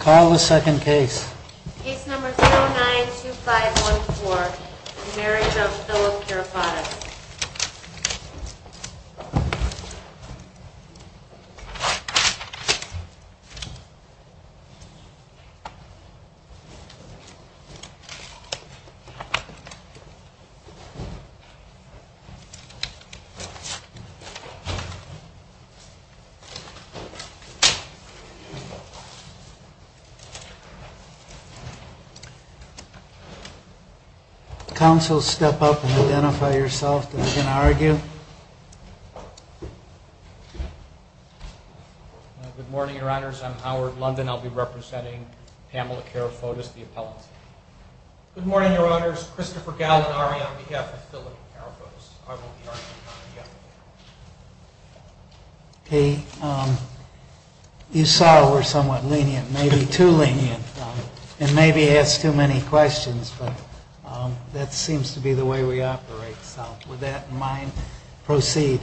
Call the second case. Case number 092514. Marriage of Philip Karafotas. Council, step up and identify yourself that you can argue. Good morning, your honors. I'm Howard London. I'll be representing Pamela Karafotas, the appellant. Good morning, your honors. Christopher Gallinari on behalf of Philip Karafotas. You saw we're somewhat lenient, maybe too lenient, and maybe ask too many questions, but that seems to be the way we operate. So with that in mind, proceed.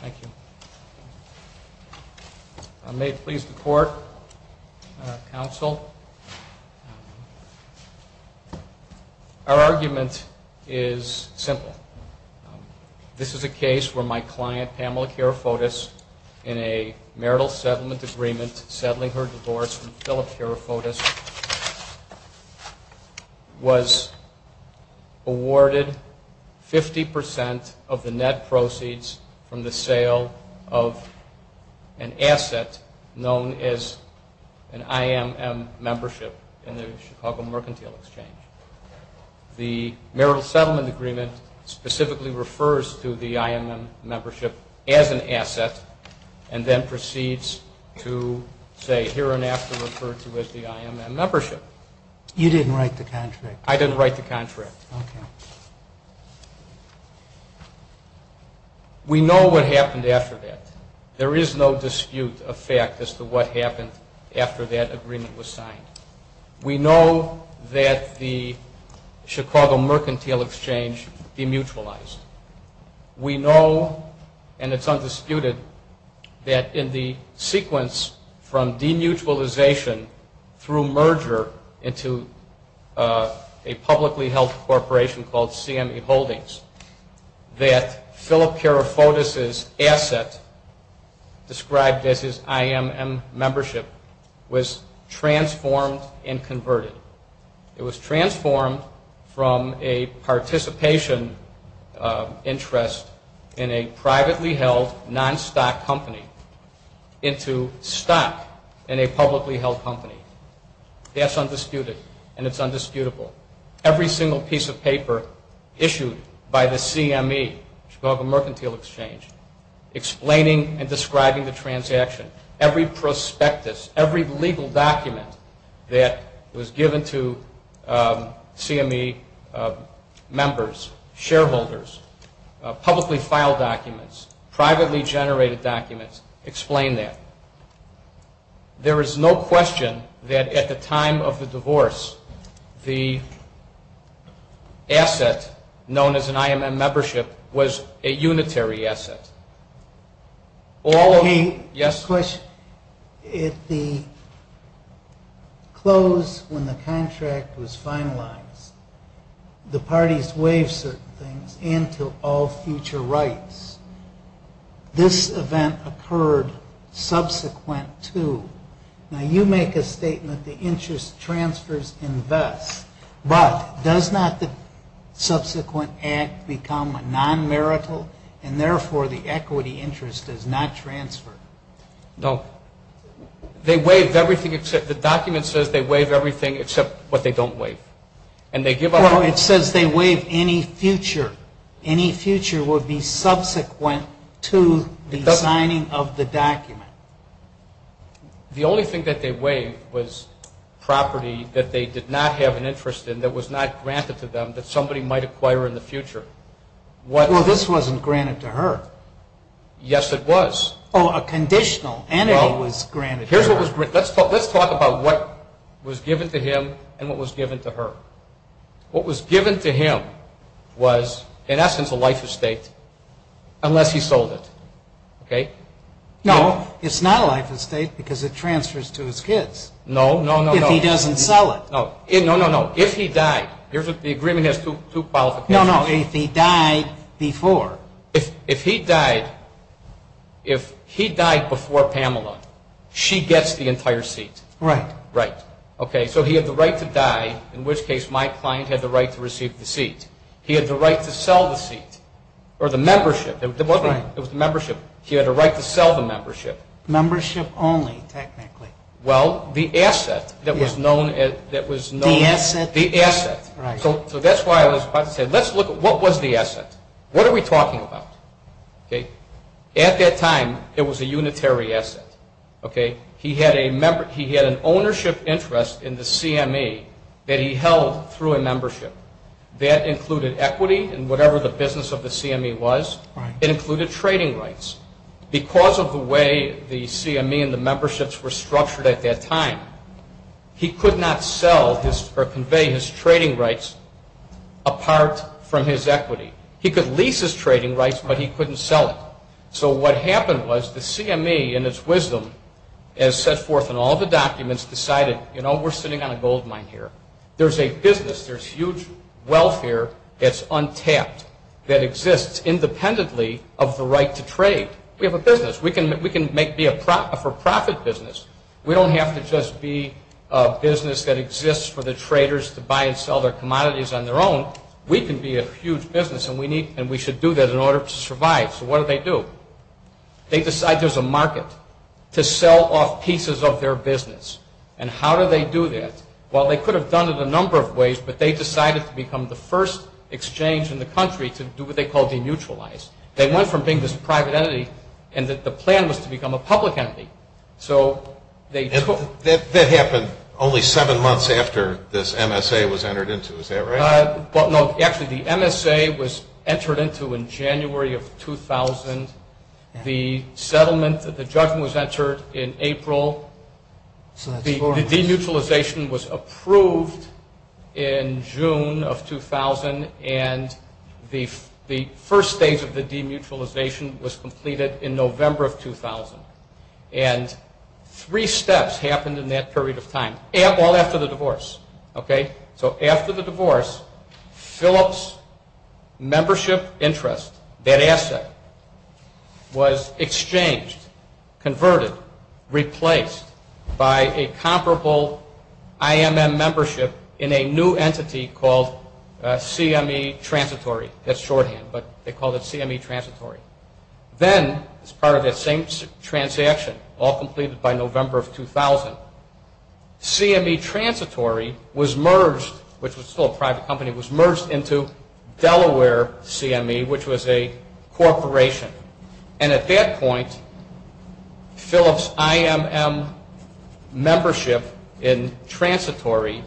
Thank you. If I may please the court, council. Our argument is simple. This is a case where my client, Pamela Karafotas, in a marital settlement agreement settling her divorce from Philip Karafotas, was awarded 50% of the net proceeds from the sale of an asset known as an IMM membership in the Chicago Mercantile Exchange. The marital settlement agreement specifically refers to the IMM membership as an asset and then proceeds to say here and after referred to as the IMM membership. You didn't write the contract. I didn't write the contract. Okay. We know what happened after that. There is no dispute of fact as to what happened after that agreement was signed. We know that the Chicago Mercantile Exchange demutualized. We know, and it's undisputed, that in the sequence from demutualization through merger into a publicly held corporation called CME Holdings, that Philip Karafotas' asset described as his IMM membership was transformed and converted. It was transformed from a participation interest in a privately held non-stock company into stock in a publicly held company. That's undisputed, and it's undisputable. Every single piece of paper issued by the CME, Chicago Mercantile Exchange, explaining and describing the transaction, every prospectus, every legal document that was given to CME members, shareholders, publicly filed documents, privately generated documents explain that. There is no question that at the time of the divorce, the asset known as an IMM membership was a unitary asset. All of the, yes? Question. At the close when the contract was finalized, the parties waived certain things and took all future rights. This event occurred subsequent to. Now, you make a statement, the interest transfers invest, but does not the subsequent act become a non-marital and therefore the equity interest does not transfer? No. They waive everything except, the document says they waive everything except what they don't waive. And they give up. Well, it says they waive any future. Any future would be subsequent to the signing of the document. The only thing that they waived was property that they did not have an interest in, that was not granted to them, that somebody might acquire in the future. Well, this wasn't granted to her. Yes, it was. Oh, a conditional entity was granted to her. Let's talk about what was given to him and what was given to her. What was given to him was, in essence, a life estate unless he sold it. No, it's not a life estate because it transfers to his kids. No, no, no. If he doesn't sell it. No, no, no. If he died. The agreement has two qualifications. No, no, no. If he died before. If he died before Pamela, she gets the entire seat. Right. Right. Okay, so he had the right to die, in which case my client had the right to receive the seat. He had the right to sell the seat or the membership. It was the membership. He had a right to sell the membership. Membership only, technically. Well, the asset that was known. The asset. The asset. Right. So that's why I was about to say, let's look at what was the asset. What are we talking about? At that time, it was a unitary asset. He had an ownership interest in the CME that he held through a membership. That included equity and whatever the business of the CME was. It included trading rights. Because of the way the CME and the memberships were structured at that time, he could not sell or convey his trading rights apart from his equity. He could lease his trading rights, but he couldn't sell it. So what happened was the CME, in its wisdom, as set forth in all the documents, decided, you know, we're sitting on a gold mine here. There's a business, there's huge welfare that's untapped, that exists independently of the right to trade. We have a business. We can be a for-profit business. We don't have to just be a business that exists for the traders to buy and sell their commodities on their own. We can be a huge business, and we should do that in order to survive. So what do they do? They decide there's a market to sell off pieces of their business. And how do they do that? Well, they could have done it a number of ways, but they decided to become the first exchange in the country to do what they call demutualize. They went from being this private entity, and the plan was to become a public entity. That happened only seven months after this MSA was entered into. Is that right? No, actually the MSA was entered into in January of 2000. The settlement, the judgment was entered in April. The demutualization was approved in June of 2000, and the first stage of the demutualization was completed in November of 2000. And three steps happened in that period of time, all after the divorce. So after the divorce, Phillips' membership interest, that asset, was exchanged, converted, replaced by a comparable IMM membership in a new entity called CME Transitory. That's shorthand, but they called it CME Transitory. Then, as part of that same transaction, all completed by November of 2000, CME Transitory was merged, which was still a private company, was merged into Delaware CME, which was a corporation. And at that point, Phillips' IMM membership in Transitory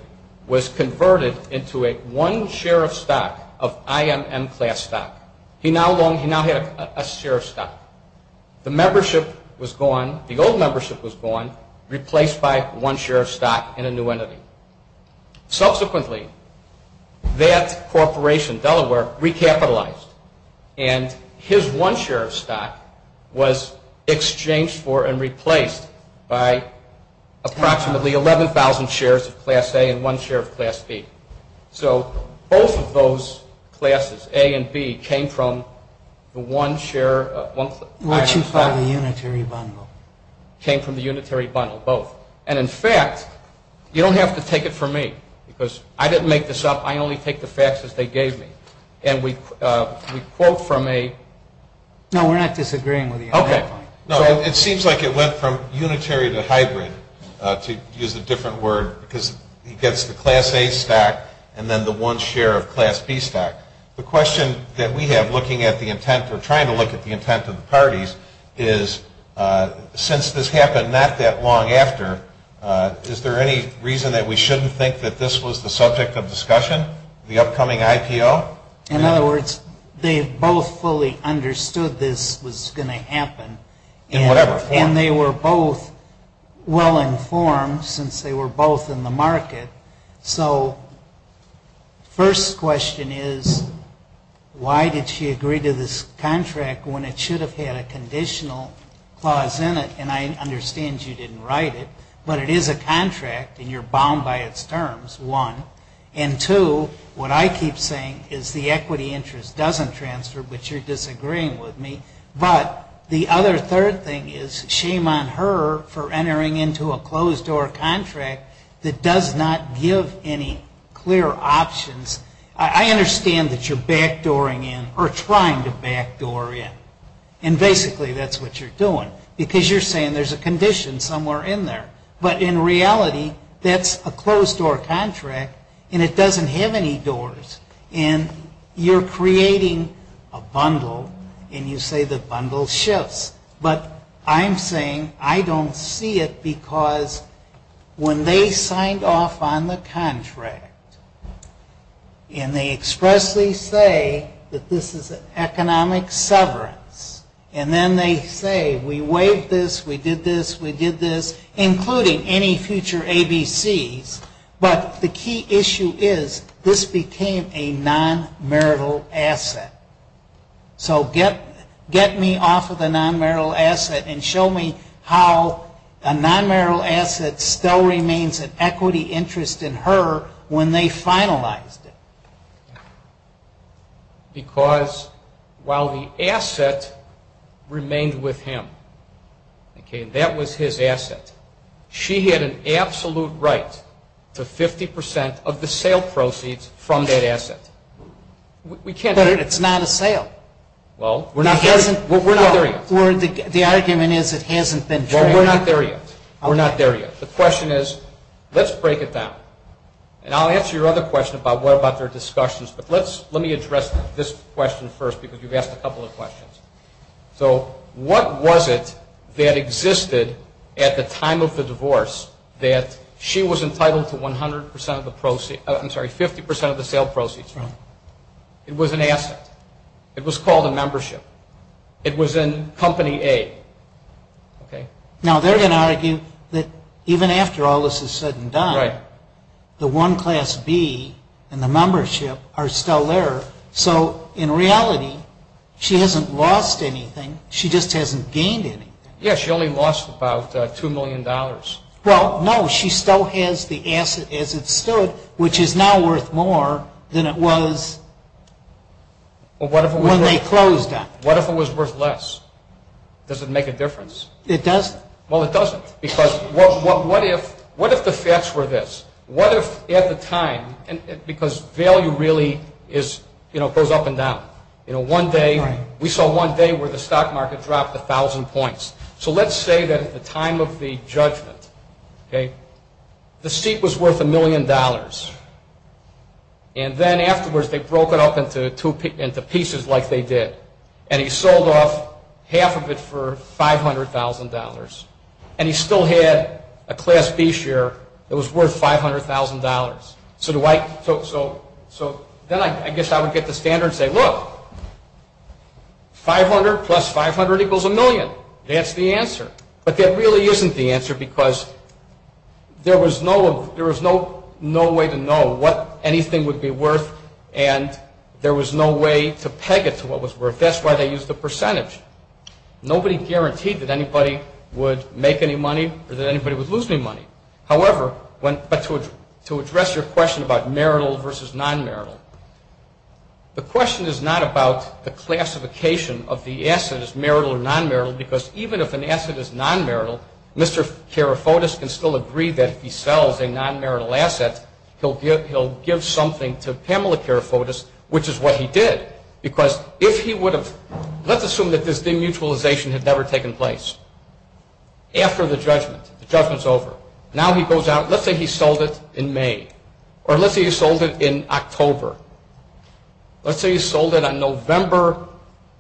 was converted into one share of stock, of IMM class stock. He now had a share of stock. The membership was gone, the old membership was gone, replaced by one share of stock in a new entity. Subsequently, that corporation, Delaware, recapitalized, and his one share of stock was exchanged for and replaced by approximately 11,000 shares of class A and one share of class B. So both of those classes, A and B, came from the one share of one class. What you call the unitary bundle. Came from the unitary bundle, both. And, in fact, you don't have to take it from me, because I didn't make this up. I only take the facts as they gave me. And we quote from a- No, we're not disagreeing with you on that point. Okay. No, it seems like it went from unitary to hybrid, to use a different word, because he gets the class A stock and then the one share of class B stock. The question that we have looking at the intent, or trying to look at the intent of the parties is, since this happened not that long after, is there any reason that we shouldn't think that this was the subject of discussion, the upcoming IPO? In other words, they both fully understood this was going to happen. In whatever form. And they were both well-informed, since they were both in the market. So, first question is, why did she agree to this contract when it should have had a conditional clause in it? And I understand you didn't write it. But it is a contract, and you're bound by its terms, one. And, two, what I keep saying is the equity interest doesn't transfer, but you're disagreeing with me. But the other third thing is, shame on her for entering into a closed-door contract that does not give any clear options. I understand that you're back-dooring in, or trying to back-door in. And basically that's what you're doing. Because you're saying there's a condition somewhere in there. But in reality, that's a closed-door contract, and it doesn't have any doors. And you're creating a bundle, and you say the bundle shifts. But I'm saying I don't see it, because when they signed off on the contract, and they expressly say that this is an economic severance, and then they say we waived this, we did this, we did this, including any future ABCs. But the key issue is this became a non-marital asset. So get me off of the non-marital asset and show me how a non-marital asset still remains an equity interest in her when they finalized it. Because while the asset remained with him, that was his asset, she had an absolute right to 50% of the sale proceeds from that asset. But it's not a sale. Well, we're not there yet. The argument is it hasn't been traded. Well, we're not there yet. We're not there yet. The question is, let's break it down. And I'll answer your other question about what about their discussions, but let me address this question first, because you've asked a couple of questions. So what was it that existed at the time of the divorce that she was entitled to 50% of the sale proceeds from? It was an asset. It was called a membership. It was in Company A. Now, they're going to argue that even after all this is said and done, the One Class B and the membership are still there. So in reality, she hasn't lost anything. She just hasn't gained anything. Yeah, she only lost about $2 million. Well, no, she still has the asset as it stood, which is now worth more than it was when they closed on it. What if it was worth less? Does it make a difference? It doesn't. Well, it doesn't. Because what if the facts were this? What if at the time, because value really goes up and down. We saw one day where the stock market dropped 1,000 points. So let's say that at the time of the judgment, the seat was worth $1 million, and then afterwards they broke it up into pieces like they did, and he sold off half of it for $500,000, and he still had a Class B share that was worth $500,000. So then I guess I would get the standard and say, look, 500 plus 500 equals a million. That's the answer. But that really isn't the answer, because there was no way to know what anything would be worth, and there was no way to peg it to what was worth. That's why they used the percentage. Nobody guaranteed that anybody would make any money or that anybody would lose any money. However, to address your question about marital versus non-marital, the question is not about the classification of the asset as marital or non-marital, because even if an asset is non-marital, Mr. Karafotis can still agree that if he sells a non-marital asset, he'll give something to Pamela Karafotis, which is what he did. Let's assume that this demutualization had never taken place. After the judgment, the judgment's over. Now he goes out. Let's say he sold it in May, or let's say he sold it in October. Let's say he sold it on November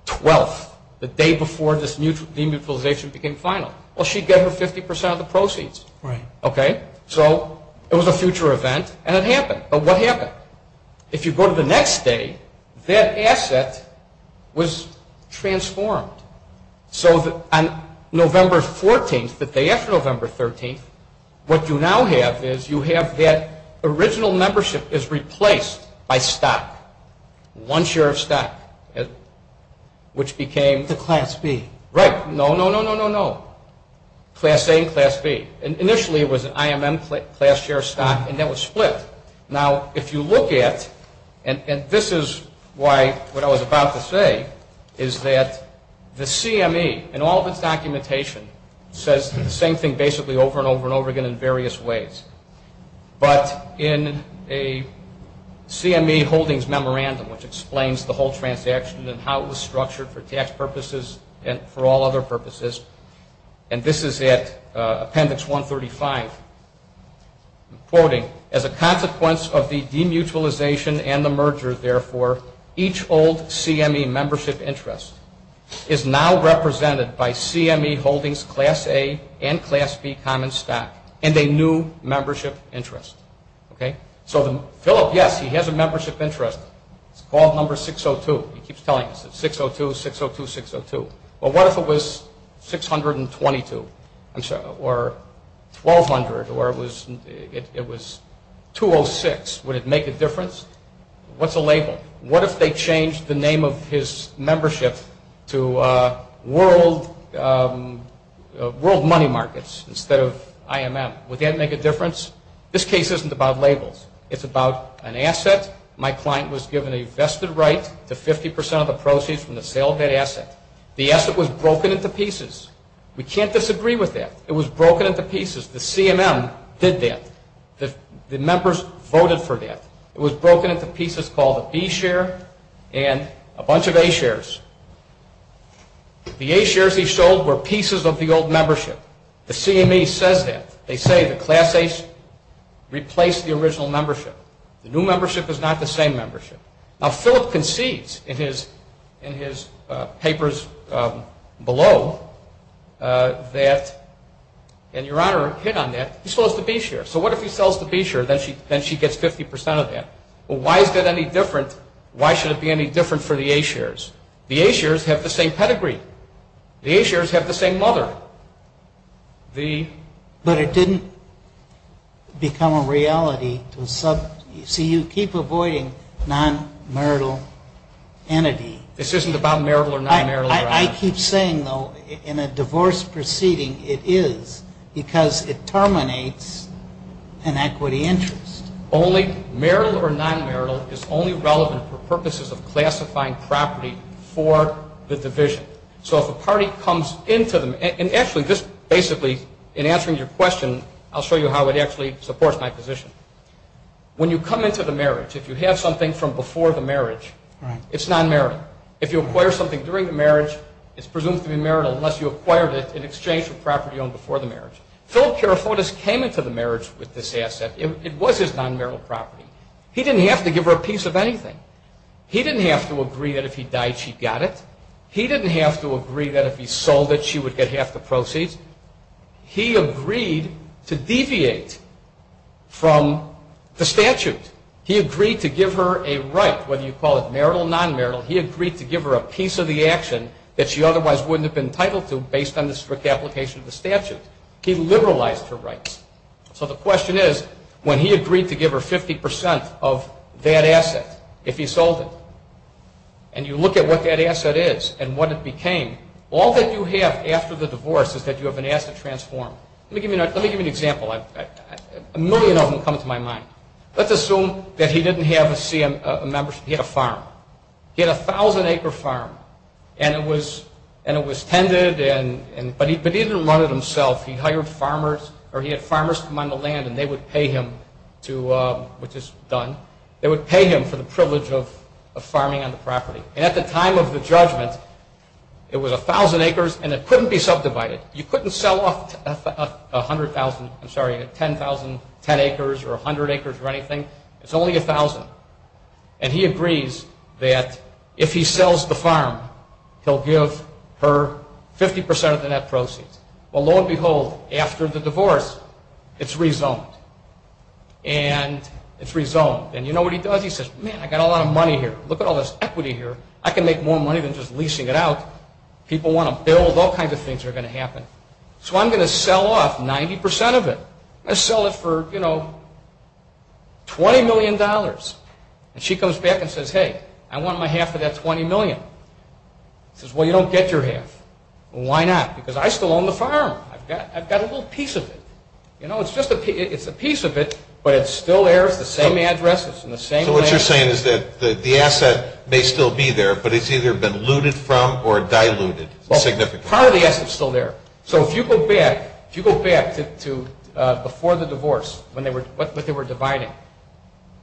12th, the day before this demutualization became final. Well, she'd get her 50% of the proceeds. So it was a future event, and it happened. But what happened? If you go to the next day, that asset was transformed. So on November 14th, the day after November 13th, what you now have is you have that original membership is replaced by stock, one share of stock, which became the Class B. Right. No, no, no, no, no, no. Class A and Class B. Initially, it was an IMM class share of stock, and that was split. Now, if you look at, and this is what I was about to say, is that the CME, in all of its documentation, says the same thing basically over and over and over again in various ways. But in a CME holdings memorandum, which explains the whole transaction and how it was structured for tax purposes and for all other purposes, and this is at appendix 135, quoting, as a consequence of the demutualization and the merger, therefore, each old CME membership interest is now represented by CME holdings, Class A and Class B common stock, and a new membership interest. Okay. So Philip, yes, he has a membership interest. It's called number 602. He keeps telling us it's 602, 602, 602. Well, what if it was 622 or 1200 or it was 206? Would it make a difference? What's a label? What if they changed the name of his membership to World Money Markets instead of IMM? Would that make a difference? This case isn't about labels. It's about an asset. My client was given a vested right to 50% of the proceeds from the sale of that asset. The asset was broken into pieces. We can't disagree with that. It was broken into pieces. The CMM did that. The members voted for that. It was broken into pieces called a B share and a bunch of A shares. The A shares he sold were pieces of the old membership. The CME says that. They say the Class A's replaced the original membership. The new membership is not the same membership. Now, Philip concedes in his papers below that, and Your Honor hit on that, he sells the B share. So what if he sells the B share? Then she gets 50% of that. Well, why is that any different? Why should it be any different for the A shares? The A shares have the same pedigree. The A shares have the same mother. But it didn't become a reality. See, you keep avoiding non-marital entity. This isn't about marital or non-marital, Your Honor. I keep saying, though, in a divorce proceeding it is because it terminates an equity interest. Marital or non-marital is only relevant for purposes of classifying property for the division. So if a party comes into them, and actually this basically, in answering your question, I'll show you how it actually supports my position. When you come into the marriage, if you have something from before the marriage, it's non-marital. If you acquire something during the marriage, it's presumed to be marital unless you acquired it in exchange for property owned before the marriage. Philip Kerafotis came into the marriage with this asset. It was his non-marital property. He didn't have to give her a piece of anything. He didn't have to agree that if he died she got it. He didn't have to agree that if he sold it she would get half the proceeds. He agreed to deviate from the statute. He agreed to give her a right, whether you call it marital or non-marital. He agreed to give her a piece of the action that she otherwise wouldn't have been entitled to based on the strict application of the statute. He liberalized her rights. So the question is, when he agreed to give her 50% of that asset if he sold it, and you look at what that asset is and what it became, all that you have after the divorce is that you have an asset transform. Let me give you an example. A million of them come to my mind. Let's assume that he didn't have a membership. He had a farm. He had a 1,000-acre farm, and it was tended, but he didn't run it himself. He hired farmers, or he had farmers come on the land, and they would pay him to, which is done, they would pay him for the privilege of farming on the property. And at the time of the judgment, it was 1,000 acres, and it couldn't be subdivided. You couldn't sell off 10,000 acres or 100 acres or anything. It's only 1,000. And he agrees that if he sells the farm, he'll give her 50% of the net proceeds. Well, lo and behold, after the divorce, it's rezoned, and it's rezoned. And you know what he does? He says, man, I got a lot of money here. Look at all this equity here. I can make more money than just leasing it out. People want to build. All kinds of things are going to happen. So I'm going to sell off 90% of it. I'm going to sell it for, you know, $20 million. And she comes back and says, hey, I want my half of that 20 million. He says, well, you don't get your half. Why not? Because I still own the farm. I've got a little piece of it. You know, it's a piece of it, but it still airs the same addresses and the same land. So what you're saying is that the asset may still be there, but it's either been looted from or diluted significantly. Part of the asset is still there. So if you go back to before the divorce, when they were dividing,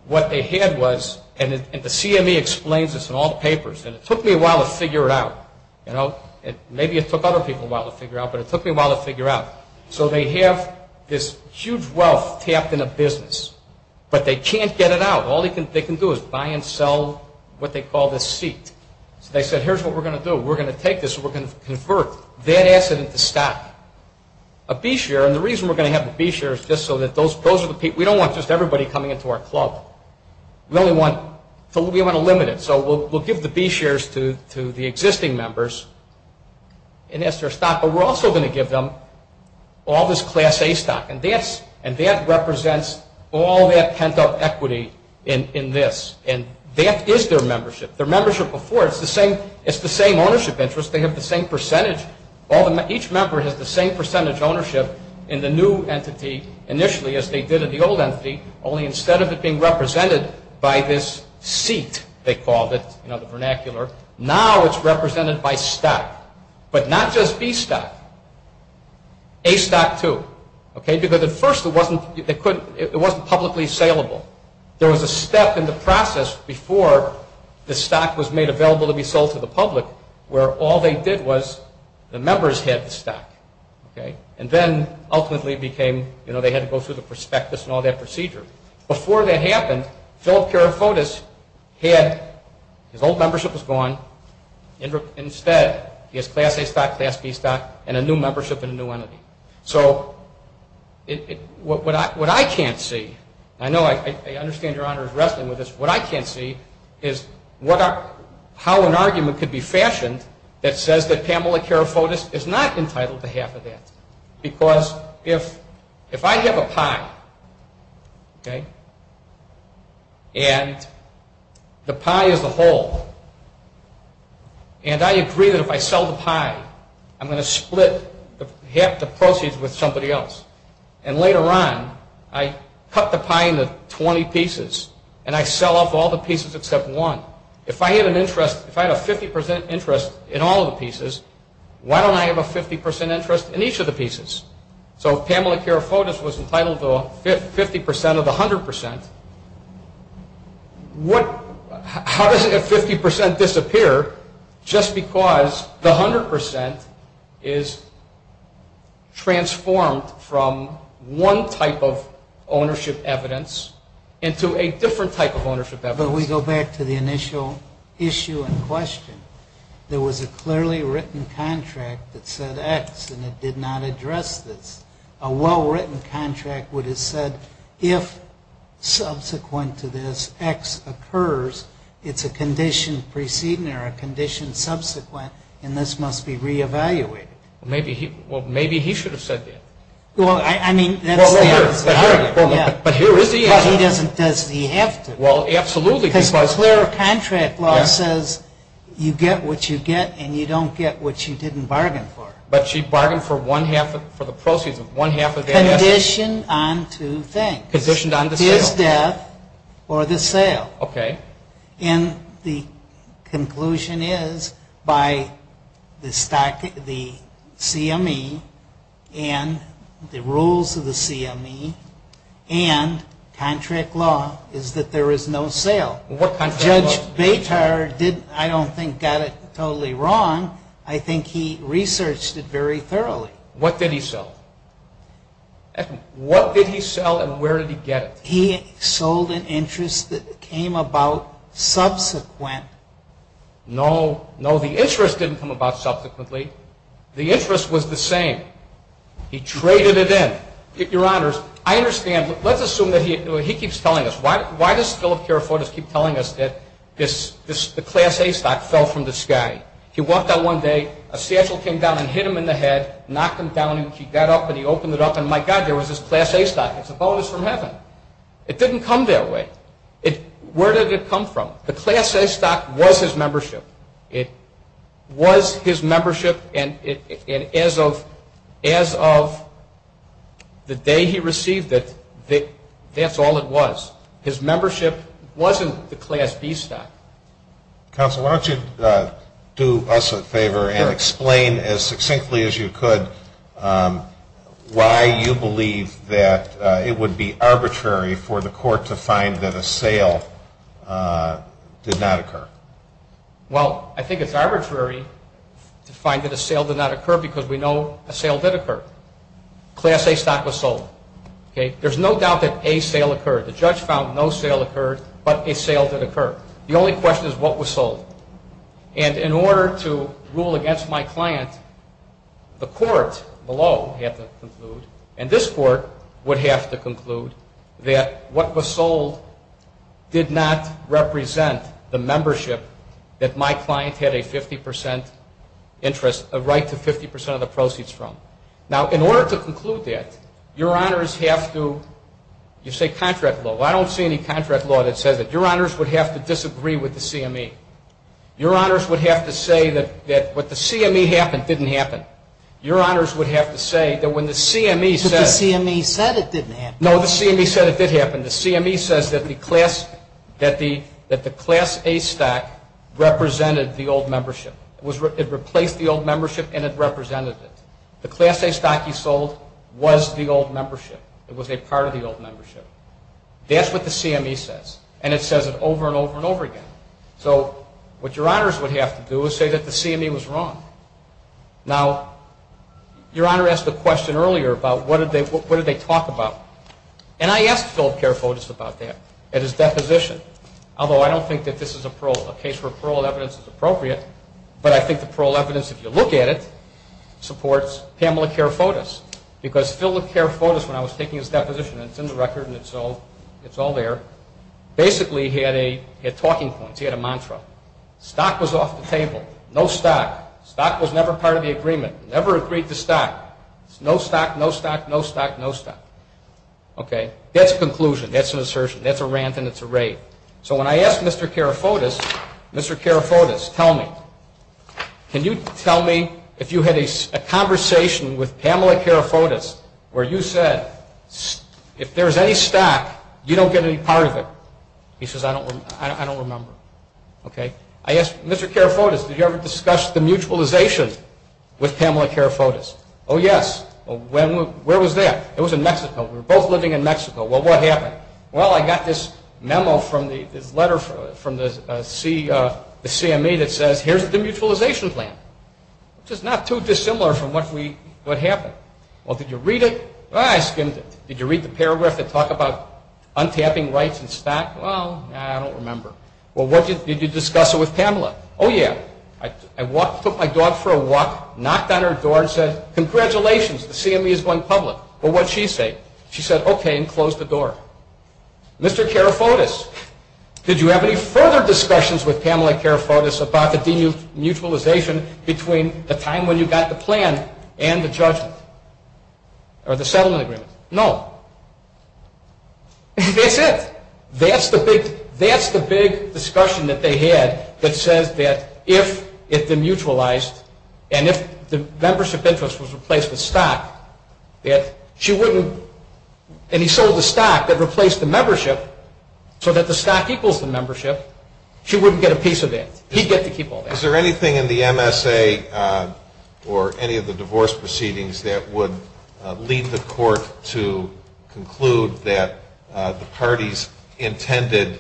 what they had was, and the CME explains this in all the papers, and it took me a while to figure it out. You know, maybe it took other people a while to figure out, but it took me a while to figure out. So they have this huge wealth tapped in a business, but they can't get it out. All they can do is buy and sell what they call the seat. So they said, here's what we're going to do. We're going to take this and we're going to convert that asset into stock, a B-share. And the reason we're going to have the B-share is just so that those are the people. We don't want just everybody coming into our club. We only want to limit it. So we'll give the B-shares to the existing members and that's their stock, but we're also going to give them all this Class A stock, and that represents all that pent-up equity in this, and that is their membership. Their membership before, it's the same ownership interest. They have the same percentage. Each member has the same percentage ownership in the new entity initially as they did in the old entity, only instead of it being represented by this seat, they called it, the vernacular, now it's represented by stock, but not just B stock. A stock, too, because at first it wasn't publicly saleable. There was a step in the process before the stock was made available to be sold to the public where all they did was the members had the stock. And then ultimately they had to go through the prospectus and all that procedure. Before that happened, Philip Karifotis, his old membership was gone. Instead, he has Class A stock, Class B stock, and a new membership in a new entity. So what I can't see, and I know I understand Your Honor is wrestling with this, what I can't see is how an argument could be fashioned that says that Pamela Karifotis is not entitled to half of that. Because if I have a pie, and the pie is the whole, and I agree that if I sell the pie I'm going to split half the proceeds with somebody else, and later on I cut the pie into 20 pieces and I sell off all the pieces except one, if I had an interest, if I had a 50% interest in all the pieces, why don't I have a 50% interest in each of the pieces? So if Pamela Karifotis was entitled to 50% of the 100%, how does that 50% disappear just because the 100% is transformed from one type of ownership evidence into a different type of ownership evidence? But we go back to the initial issue and question. There was a clearly written contract that said X, and it did not address this. A well-written contract would have said if subsequent to this X occurs, it's a condition preceding or a condition subsequent, and this must be re-evaluated. Well, maybe he should have said that. Well, I mean, that's the answer. But here is the answer. But he doesn't have to. Well, absolutely. Because where a contract law says you get what you get and you don't get what you didn't bargain for. But she bargained for the proceeds of one half of that asset. Conditioned on two things. Conditioned on the sale. His death or the sale. Okay. And the conclusion is by the CME and the rules of the CME and contract law is that there is no sale. What contract law? Judge Betar didn't, I don't think, got it totally wrong. I think he researched it very thoroughly. What did he sell? What did he sell and where did he get it? He sold an interest that came about subsequent. No. No, the interest didn't come about subsequently. The interest was the same. He traded it in. Your Honors, I understand. Let's assume that he keeps telling us. Why does Philip Carrefour just keep telling us that the Class A stock fell from the sky? He walked out one day, a satchel came down and hit him in the head, knocked him down and he got up and he opened it up and, my God, there was this Class A stock. It's a bonus from heaven. It didn't come that way. Where did it come from? The Class A stock was his membership. It was his membership and as of the day he received it, that's all it was. His membership wasn't the Class B stock. Counsel, why don't you do us a favor and explain as succinctly as you could why you believe that it would be arbitrary for the court to find that a sale did not occur. Well, I think it's arbitrary to find that a sale did not occur because we know a sale did occur. Class A stock was sold. There's no doubt that a sale occurred. The judge found no sale occurred but a sale did occur. The only question is what was sold. And in order to rule against my client, the court below had to conclude and this court would have to conclude that what was sold did not represent the membership that my client had a 50% interest, a right to 50% of the proceeds from. Now, in order to conclude that, Your Honors have to, you say contract law. I don't see any contract law that says that. Your Honors would have to disagree with the CME. Your Honors would have to say that what the CME happened didn't happen. Your Honors would have to say that when the CME says. But the CME said it didn't happen. No, the CME said it did happen. The CME says that the class A stock represented the old membership. It replaced the old membership and it represented it. The class A stock you sold was the old membership. It was a part of the old membership. That's what the CME says. And it says it over and over and over again. So what Your Honors would have to do is say that the CME was wrong. Now, Your Honor asked a question earlier about what did they talk about. And I asked Phil Kerfotis about that at his deposition. Although I don't think that this is a parole. A case where parole evidence is appropriate. But I think the parole evidence, if you look at it, supports Pamela Kerfotis. Because Phil Kerfotis, when I was taking his deposition, and it's in the record and it's all there, basically he had talking points. He had a mantra. Stock was off the table. No stock. Stock was never part of the agreement. Never agreed to stock. No stock, no stock, no stock, no stock. That's a conclusion. That's an assertion. That's a rant and it's a rave. So when I asked Mr. Kerfotis, Mr. Kerfotis, tell me, can you tell me if you had a conversation with Pamela Kerfotis where you said, if there's any stock, you don't get any part of it. He says, I don't remember. Okay. I asked Mr. Kerfotis, did you ever discuss the mutualization with Pamela Kerfotis? Oh, yes. Where was that? It was in Mexico. We were both living in Mexico. Well, what happened? Well, I got this memo from this letter from the CME that says, here's the mutualization plan, which is not too dissimilar from what happened. Well, did you read it? I skimmed it. Did you read the paragraph that talked about untapping rights and stock? Well, I don't remember. Well, did you discuss it with Pamela? Oh, yeah. I took my dog for a walk, knocked on her door and said, congratulations. The CME is going public. Well, what did she say? She said, okay, and closed the door. Mr. Kerfotis, did you have any further discussions with Pamela Kerfotis about the demutualization between the time when you got the plan and the settlement agreement? No. That's it. That's the big discussion that they had that says that if it demutualized and if the membership interest was replaced with stock, that she wouldn't and he sold the stock that replaced the membership so that the stock equals the membership, she wouldn't get a piece of it. He'd get to keep all that. Is there anything in the MSA or any of the divorce proceedings that would lead the court to conclude that the parties intended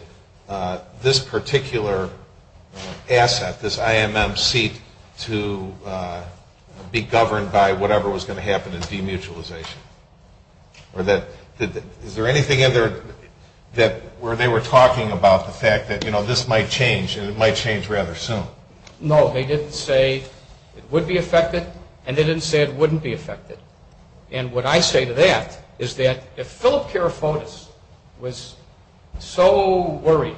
this particular asset, this IMM seat, to be governed by whatever was going to happen in demutualization? Is there anything in there where they were talking about the fact that this might change and it might change rather soon? No, they didn't say it would be affected and they didn't say it wouldn't be affected. And what I say to that is that if Philip Kerfotis was so worried,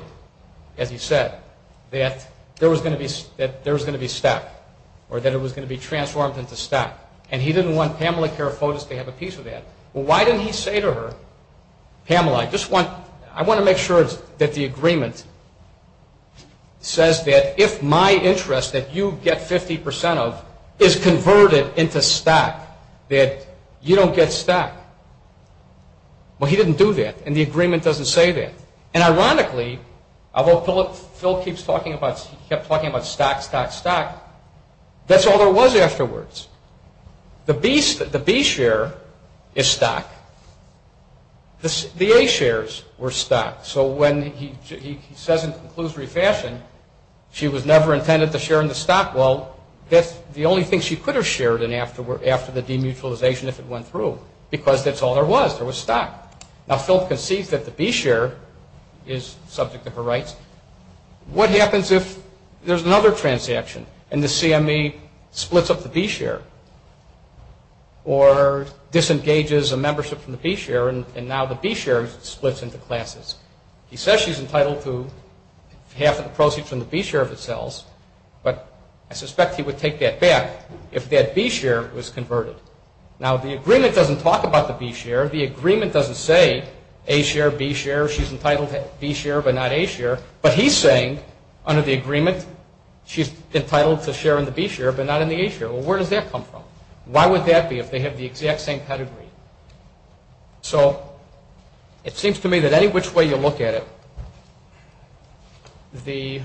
as he said, that there was going to be stock or that it was going to be transformed into stock and he didn't want Pamela Kerfotis to have a piece of that, well, why didn't he say to her, Pamela, I want to make sure that the agreement says that if my interest that you get 50% of is converted into stock, that you don't get stock. Well, he didn't do that and the agreement doesn't say that. And ironically, although Philip kept talking about stock, stock, stock, that's all there was afterwards. The B share is stock. The A shares were stock. So when he says in a conclusory fashion, she was never intended to share in the stock, well, that's the only thing she could have shared after the demutualization if it went through because that's all there was, there was stock. Now, Philip conceived that the B share is subject to her rights. What happens if there's another transaction and the CME splits up the B share or disengages a membership from the B share and now the B share splits into classes? He says she's entitled to half of the proceeds from the B share of the sales, but I suspect he would take that back if that B share was converted. Now, the agreement doesn't talk about the B share. The agreement doesn't say A share, B share, she's entitled to B share but not A share, but he's saying under the agreement she's entitled to share in the B share but not in the A share. Well, where does that come from? Why would that be if they have the exact same pedigree? So it seems to me that any which way you look at it, the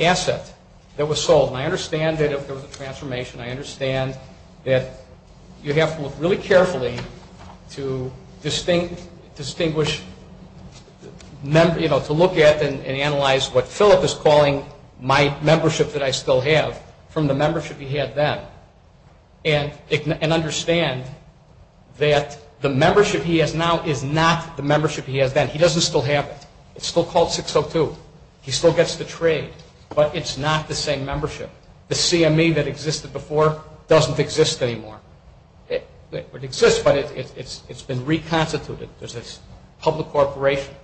asset that was sold, and I understand that if there was a transformation, I understand that you have to look really carefully to distinguish, to look at and analyze what Philip is calling my membership that I still have from the membership he had then and understand that the membership he has now is not the membership he has then. He doesn't still have it. It's still called 602. He still gets the trade, but it's not the same membership. The CME that existed before doesn't exist anymore. It exists, but it's been reconstituted. There's this public corporation.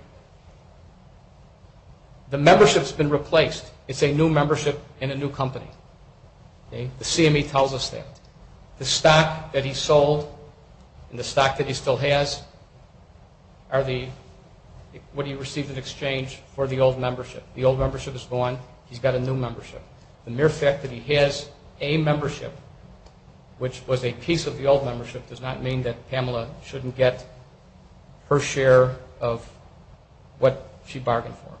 The membership's been replaced. It's a new membership in a new company. The CME tells us that. The stock that he sold and the stock that he still has are what he received in exchange for the old membership. The old membership is gone. He's got a new membership. The mere fact that he has A membership, which was a piece of the old membership, does not mean that Pamela shouldn't get her share of what she bargained for.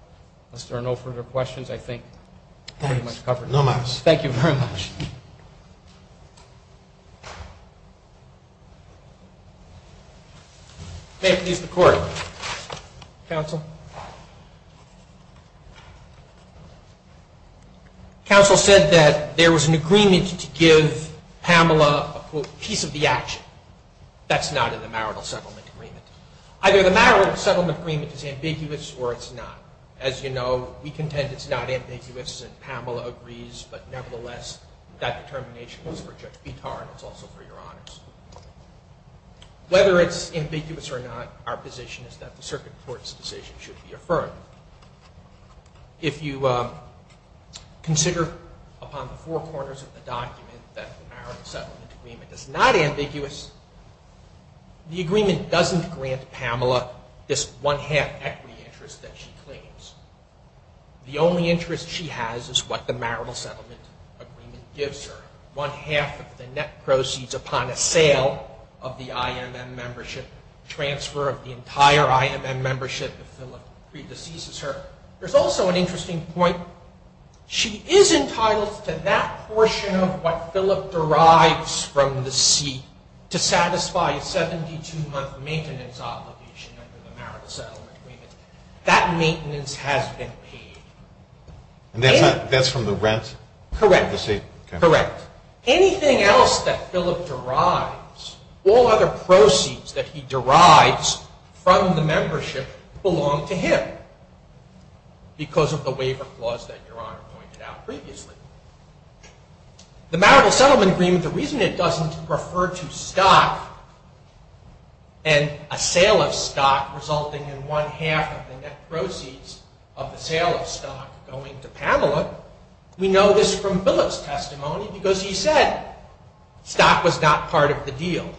Unless there are no further questions, I think we're pretty much covered. Thank you very much. May it please the Court. Counsel. Counsel. Counsel said that there was an agreement to give Pamela a piece of the action. That's not in the marital settlement agreement. Either the marital settlement agreement is ambiguous or it's not. As you know, we contend it's not ambiguous and Pamela agrees, but nevertheless that determination was for Judge Vitar and it's also for your honors. Whether it's ambiguous or not, our position is that the circuit court's decision should be affirmed. If you consider upon the four corners of the document that the marital settlement agreement is not ambiguous, the agreement doesn't grant Pamela this one half equity interest that she claims. The only interest she has is what the marital settlement agreement gives her. One half of the net proceeds upon a sale of the IMM membership, transfer of the entire IMM membership if Philip predeceases her. There's also an interesting point. She is entitled to that portion of what Philip derives from the seat to satisfy a 72-month maintenance obligation under the marital settlement agreement. That maintenance has been paid. That's from the rent? Correct. Anything else that Philip derives, all other proceeds that he derives from the membership, belong to him because of the waiver clause that your honor pointed out previously. The marital settlement agreement, the reason it doesn't refer to stock and a sale of stock resulting in one half of the net proceeds of the sale of stock going to Pamela, we know this from Philip's testimony because he said stock was not part of the deal.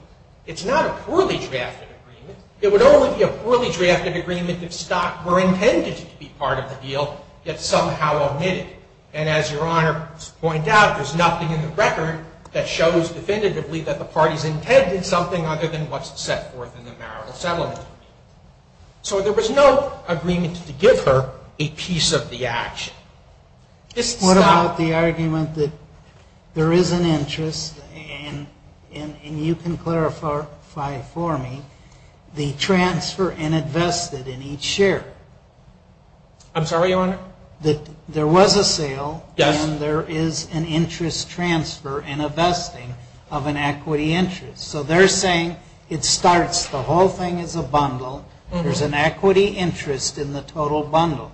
It's not a poorly drafted agreement. It would only be a poorly drafted agreement if stock were intended to be part of the deal, yet somehow omitted. And as your honor pointed out, there's nothing in the record that shows definitively that the parties intended something other than what's set forth in the marital settlement agreement. So there was no agreement to give her a piece of the action. What about the argument that there is an interest, and you can clarify for me, the transfer and invested in each share? I'm sorry, your honor? There was a sale. Yes. And there is an interest transfer and investing of an equity interest. So they're saying it starts, the whole thing is a bundle. There's an equity interest in the total bundle.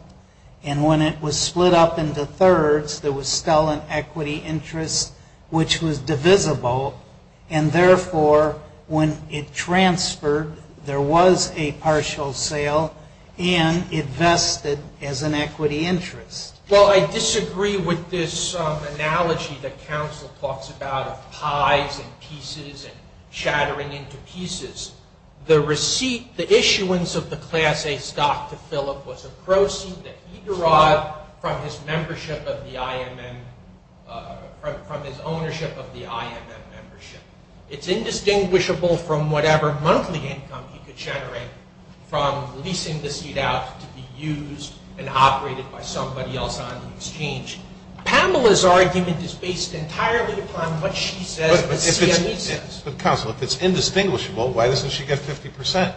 And when it was split up into thirds, there was still an equity interest, which was divisible. And therefore, when it transferred, there was a partial sale, and it vested as an equity interest. Well, I disagree with this analogy that counsel talks about of pies and pieces and shattering into pieces. The receipt, the issuance of the Class A stock to Philip was a proceed that he derived from his membership of the IMM, from his ownership of the IMM membership. It's indistinguishable from whatever monthly income he could generate from leasing the seat out to be used and operated by somebody else on the exchange. Pamela's argument is based entirely upon what she says, what CME says. But counsel, if it's indistinguishable, why doesn't she get 50%?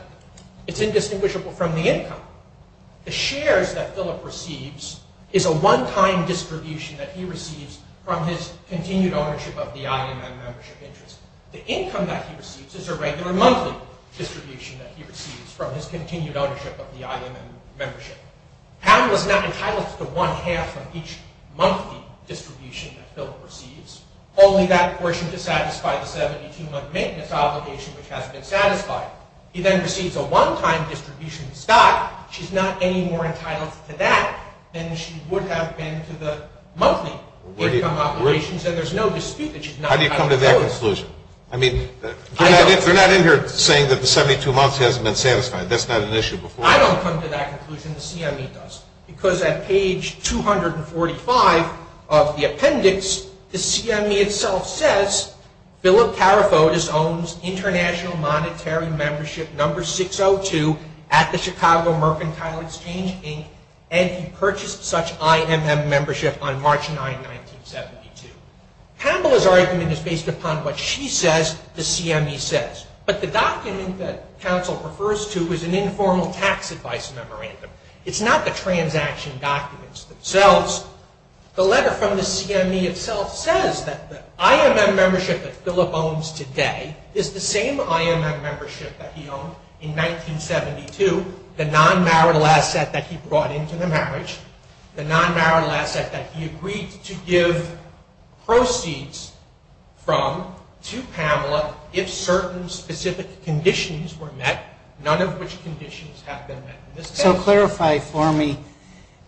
It's indistinguishable from the income. The shares that Philip receives is a one-time distribution that he receives from his continued ownership of the IMM membership interest. It's from his continued ownership of the IMM membership. Pamela's not entitled to one-half of each monthly distribution that Philip receives, only that portion to satisfy the 72-month maintenance obligation, which has been satisfied. He then receives a one-time distribution stock. She's not any more entitled to that than she would have been to the monthly income obligations, and there's no dispute that she's not entitled to those. How do you come to that conclusion? I mean, they're not in here saying that the 72 months hasn't been satisfied. That's not an issue. I don't come to that conclusion. The CME does. Because at page 245 of the appendix, the CME itself says, Philip Tarifotis owns international monetary membership number 602 at the Chicago Mercantile Exchange, Inc., and he purchased such IMM membership on March 9, 1972. Pamela's argument is based upon what she says the CME says. But the document that counsel refers to is an informal tax advice memorandum. It's not the transaction documents themselves. The letter from the CME itself says that the IMM membership that Philip owns today is the same IMM membership that he owned in 1972, the non-marital asset that he brought into the marriage, the non-marital asset that he agreed to give proceeds from to Pamela if certain specific conditions were met, none of which conditions have been met. So clarify for me,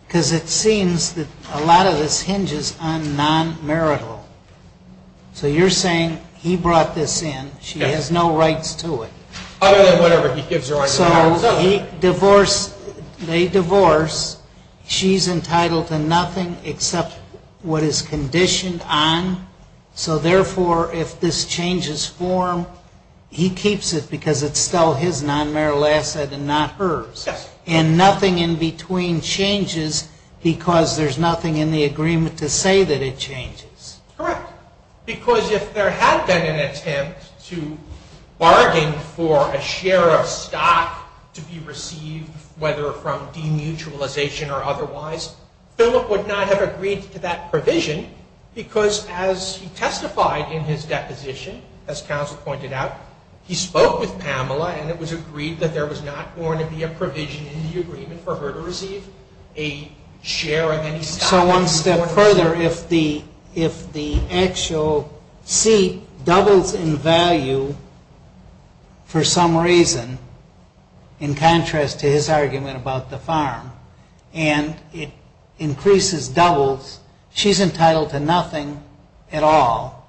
because it seems that a lot of this hinges on non-marital. So you're saying he brought this in. She has no rights to it. Other than whatever he gives her under the marriage. They divorce. She's entitled to nothing except what is conditioned on. So therefore, if this changes form, he keeps it because it's still his non-marital asset and not hers. And nothing in between changes because there's nothing in the agreement to say that it changes. Correct. Because if there had been an attempt to bargain for a share of stock to be received, whether from demutualization or otherwise, Philip would not have agreed to that provision because as he testified in his deposition, as counsel pointed out, he spoke with Pamela and it was agreed that there was not going to be a provision in the agreement for her to receive a share of any stock. So one step further, if the actual seat doubles in value for some reason, in contrast to his argument about the farm, and it increases, doubles, she's entitled to nothing at all,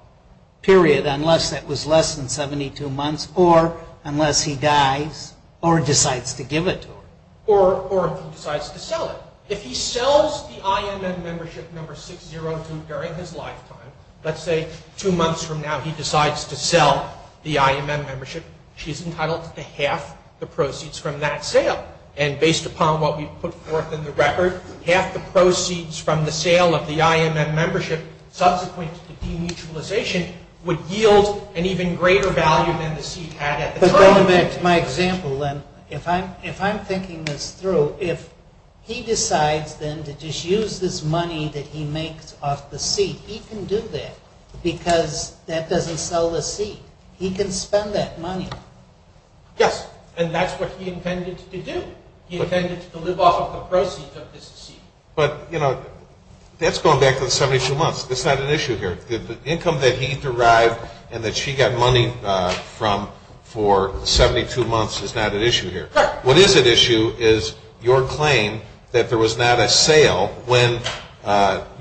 period, unless that was less than 72 months or unless he dies or decides to give it to her. Or if he decides to sell it. If he sells the IMM membership number 602 during his lifetime, let's say two months from now he decides to sell the IMM membership, she's entitled to half the proceeds from that sale. And based upon what we've put forth in the record, half the proceeds from the sale of the IMM membership subsequent to demutualization would yield an even greater value than the seat had at the time. But going back to my example then, if I'm thinking this through, if he decides then to just use this money that he makes off the seat, he can do that because that doesn't sell the seat. He can spend that money. Yes, and that's what he intended to do. He intended to live off of the proceeds of this seat. But, you know, that's going back to the 72 months. That's not an issue here. The income that he derived and that she got money from for 72 months is not an issue here. What is at issue is your claim that there was not a sale when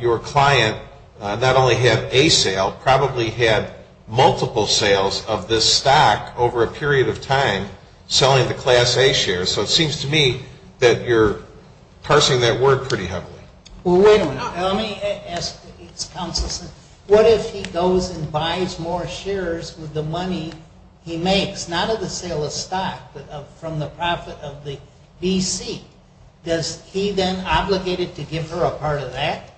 your client not only had a sale, probably had multiple sales of this stock over a period of time selling the Class A shares. So it seems to me that you're parsing that word pretty heavily. Well, wait a minute. Let me ask, what if he goes and buys more shares with the money he makes, not of the sale of stock, but from the profit of the B.C.? Does he then obligated to give her a part of that?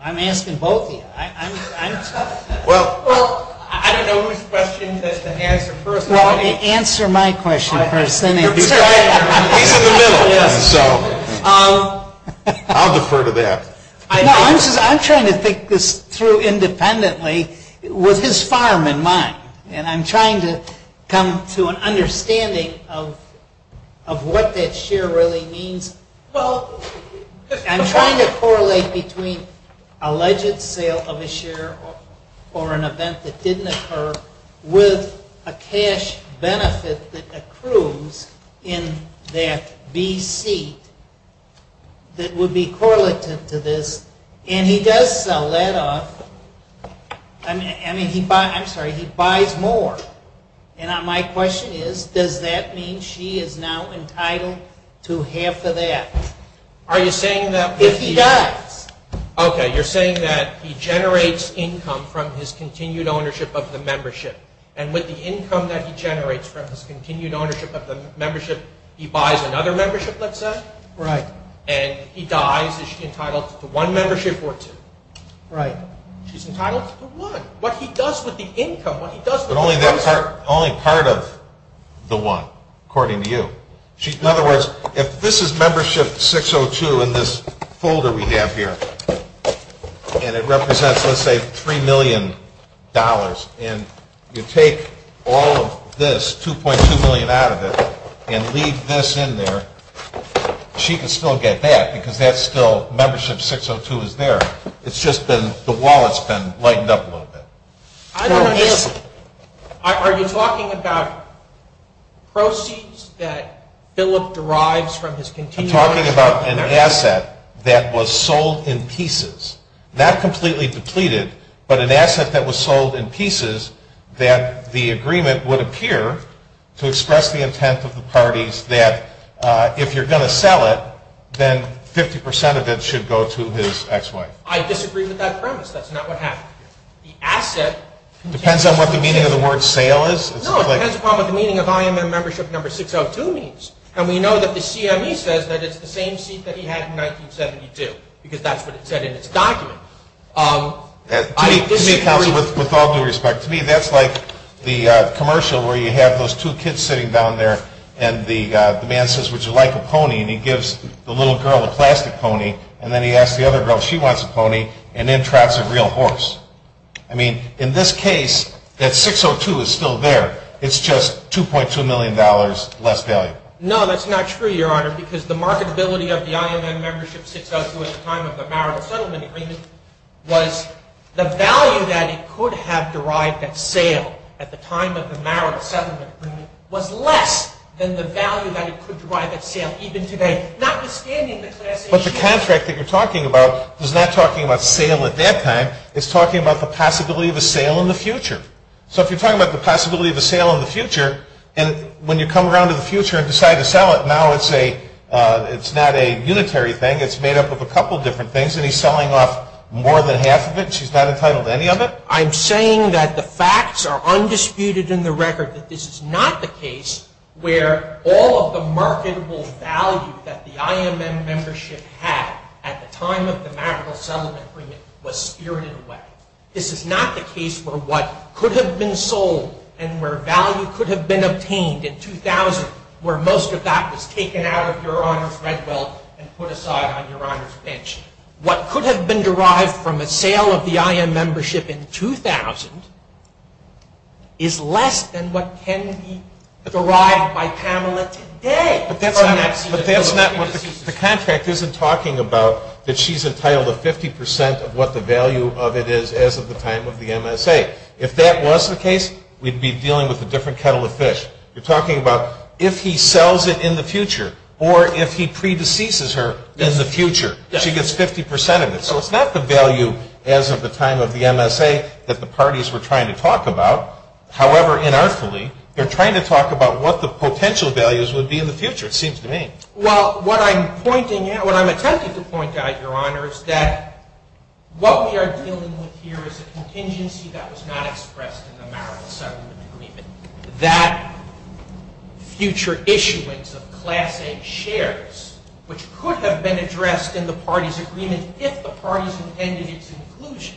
I'm asking both of you. I'm tough. Well, I don't know whose question to answer first. Well, answer my question first. He's in the middle, so I'll defer to that. I'm trying to think this through independently with his farm in mind, and I'm trying to come to an understanding of what that share really means. I'm trying to correlate between alleged sale of a share or an event that didn't occur with a cash benefit that accrues in that B.C. that would be correlative to this. And he does sell that off. I mean, he buys more. And my question is, does that mean she is now entitled to half of that if he dies? Okay. You're saying that he generates income from his continued ownership of the membership, and with the income that he generates from his continued ownership of the membership, he buys another membership, let's say? Right. And he dies. Is she entitled to one membership or two? Right. She's entitled to one. What he does with the income, what he does with the membership. But only part of the one, according to you. In other words, if this is membership 602 in this folder we have here, and it represents, let's say, $3 million, and you take all of this, $2.2 million out of it, and leave this in there, she can still get that, because that's still membership 602 is there. It's just been the wallet's been lightened up a little bit. I don't understand. Are you talking about proceeds that Philip derives from his continued ownership? I'm talking about an asset that was sold in pieces, not completely depleted, but an asset that was sold in pieces that the agreement would appear to express the intent of the parties that if you're going to sell it, then 50% of it should go to his ex-wife. I disagree with that premise. That's not what happened. Depends on what the meaning of the word sale is? No, it depends upon what the meaning of IMM membership number 602 means. And we know that the CME says that it's the same seat that he had in 1972, because that's what it said in its document. To me, counsel, with all due respect, to me that's like the commercial where you have those two kids sitting down there, and the man says, would you like a pony? And he gives the little girl a plastic pony, and then he asks the other girl if she wants a pony, and then trots a real horse. I mean, in this case, that 602 is still there. It's just $2.2 million less value. No, that's not true, Your Honor, because the marketability of the IMM membership 602 at the time of the marital settlement agreement was the value that it could have derived at sale at the time of the marital settlement agreement was less than the value that it could derive at sale even today, notwithstanding the class issue. But the contract that you're talking about is not talking about sale at that time. It's talking about the possibility of a sale in the future. So if you're talking about the possibility of a sale in the future, and when you come around to the future and decide to sell it, now it's not a unitary thing. It's made up of a couple different things, and he's selling off more than half of it. She's not entitled to any of it. I'm saying that the facts are undisputed in the record that this is not the case where all of the marketable value that the IMM membership had at the time of the marital settlement agreement was spirited away. This is not the case for what could have been sold and where value could have been obtained in 2000 where most of that was taken out of Your Honor's red belt and put aside on Your Honor's bench. What could have been derived from a sale of the IMM membership in 2000 is less than what can be derived by Pamela today. But that's not what the contract isn't talking about that she's entitled to 50% of what the value of it is as of the time of the MSA. If that was the case, we'd be dealing with a different kettle of fish. You're talking about if he sells it in the future or if he predeceases her in the future, she gets 50% of it. So it's not the value as of the time of the MSA that the parties were trying to talk about. However, inartfully, they're trying to talk about what the potential values would be in the future, it seems to me. Well, what I'm pointing out, what I'm attempting to point out, Your Honor, is that what we are dealing with here is a contingency that was not expressed in the marital settlement agreement. That future issuance of class A shares, which could have been addressed in the party's agreement if the parties intended its inclusion.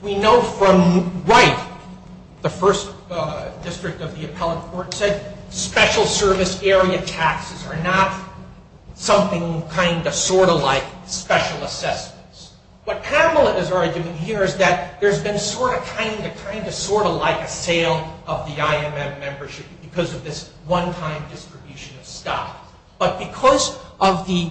We know from right, the first district of the appellate court said, special service area taxes are not something kind of, sort of like special assessments. What Pamela is arguing here is that there's been sort of, kind of, kind of, sort of like a sale of the IMM membership But because of the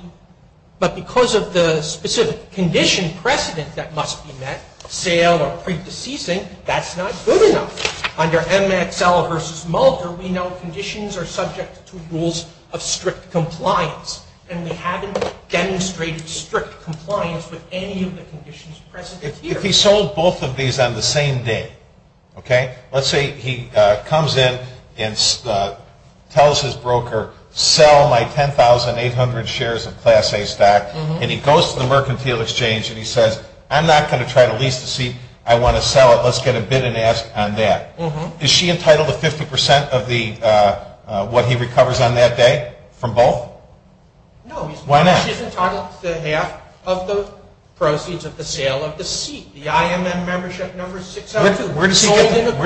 specific condition precedent that must be met, sale or predeceasing, that's not good enough. Under MXL versus Mulder, we know conditions are subject to rules of strict compliance. And we haven't demonstrated strict compliance with any of the conditions present here. If he sold both of these on the same day, okay? Tells his broker, sell my 10,800 shares of class A stock. And he goes to the mercantile exchange and he says, I'm not going to try to lease the seat. I want to sell it. Let's get a bid and ask on that. Is she entitled to 50% of what he recovers on that day from both? No. Why not? She's entitled to half of the proceeds of the sale of the seat, the IMM membership number 672. Where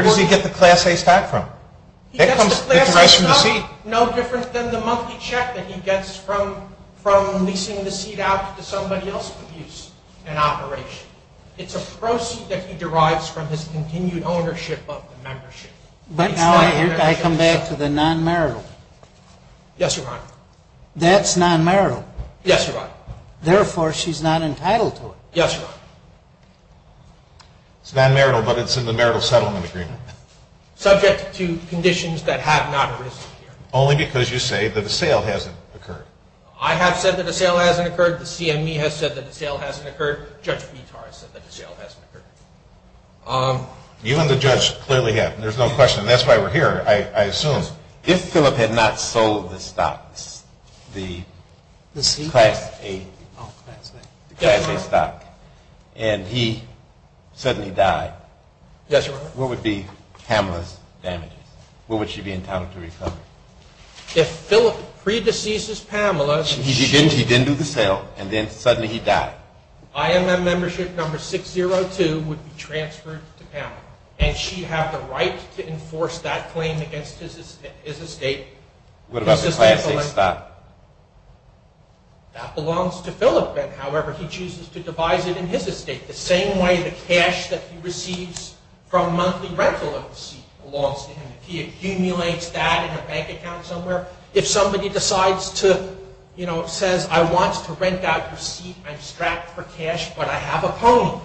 does he get the class A stock from? He gets the class A stock no different than the monthly check that he gets from leasing the seat out to somebody else to use in operation. It's a proceed that he derives from his continued ownership of the membership. But now I come back to the non-marital. Yes, Your Honor. That's non-marital. Yes, Your Honor. Therefore, she's not entitled to it. Yes, Your Honor. It's non-marital, but it's in the marital settlement agreement. Subject to conditions that have not arisen here. Only because you say that a sale hasn't occurred. I have said that a sale hasn't occurred. The CME has said that a sale hasn't occurred. Judge Petar has said that a sale hasn't occurred. You and the judge clearly have. There's no question. That's why we're here, I assume. If Philip had not sold the stock, the class A stock, and he suddenly died, Yes, Your Honor. what would be Pamela's damages? What would she be entitled to recover? If Philip predeceases Pamela, He didn't do the sale, and then suddenly he died. IMM membership number 602 would be transferred to Pamela. And she'd have the right to enforce that claim against his estate. What about the class A stock? That belongs to Philip. However, he chooses to devise it in his estate. The same way the cash that he receives from monthly rental of the seat belongs to him. If he accumulates that in a bank account somewhere, if somebody decides to, you know, says, I want to rent out your seat. I'm strapped for cash, but I have a pony.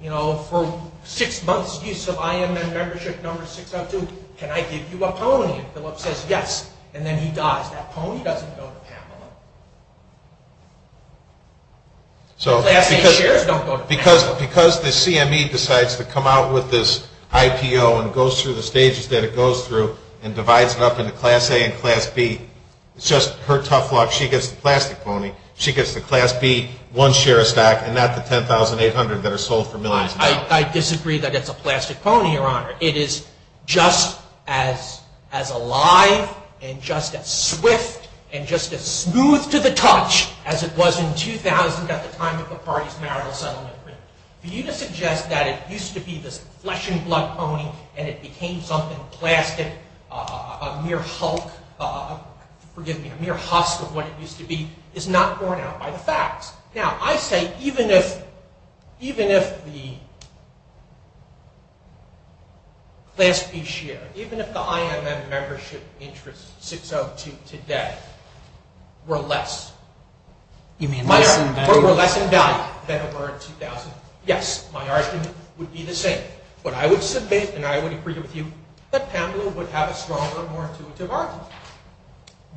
You know, for six months' use of IMM membership number 602, can I give you a pony? And Philip says yes, and then he dies. That pony doesn't go to Pamela. Class A shares don't go to Pamela. Because the CME decides to come out with this IPO and goes through the stages that it goes through and divides it up into class A and class B, it's just her tough luck. She gets the plastic pony. She gets the class B one share of stock and not the 10,800 that are sold for millions. I disagree that it's a plastic pony, Your Honor. It is just as alive and just as swift and just as smooth to the touch as it was in 2000 at the time of the party's marital settlement agreement. For you to suggest that it used to be this flesh and blood pony and it became something plastic, a mere hulk, forgive me, a mere husk of what it used to be, is not borne out by the facts. Now, I say even if the class B share, even if the IMM membership interest 602 today were less, were less in value than it were in 2000, yes, my argument would be the same. What I would submit, and I would agree with you, that Pamela would have a stronger, more intuitive argument.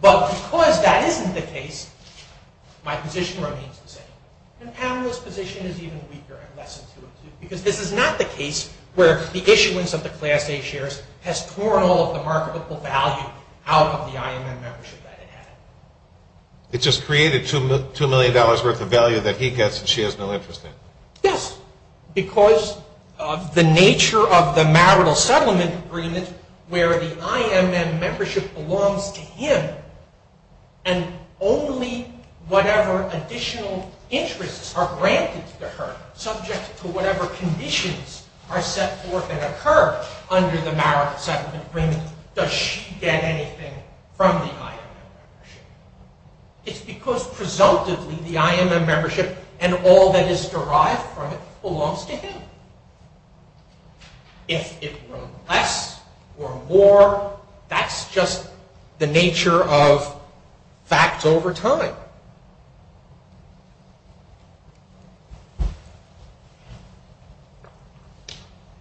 But because that isn't the case, my position remains the same. And Pamela's position is even weaker and less intuitive because this is not the case where the issuance of the class A shares has torn all of the marketable value out of the IMM membership that it had. It just created $2 million worth of value that he gets and she has no interest in. Yes, because of the nature of the marital settlement agreement where the IMM membership belongs to him and only whatever additional interests are granted to her, subject to whatever conditions are set forth and occur under the marital settlement agreement, does she get anything from the IMM membership. It's because, presumptively, the IMM membership and all that is derived from it belongs to him. If it were less or more, that's just the nature of facts over time. All right.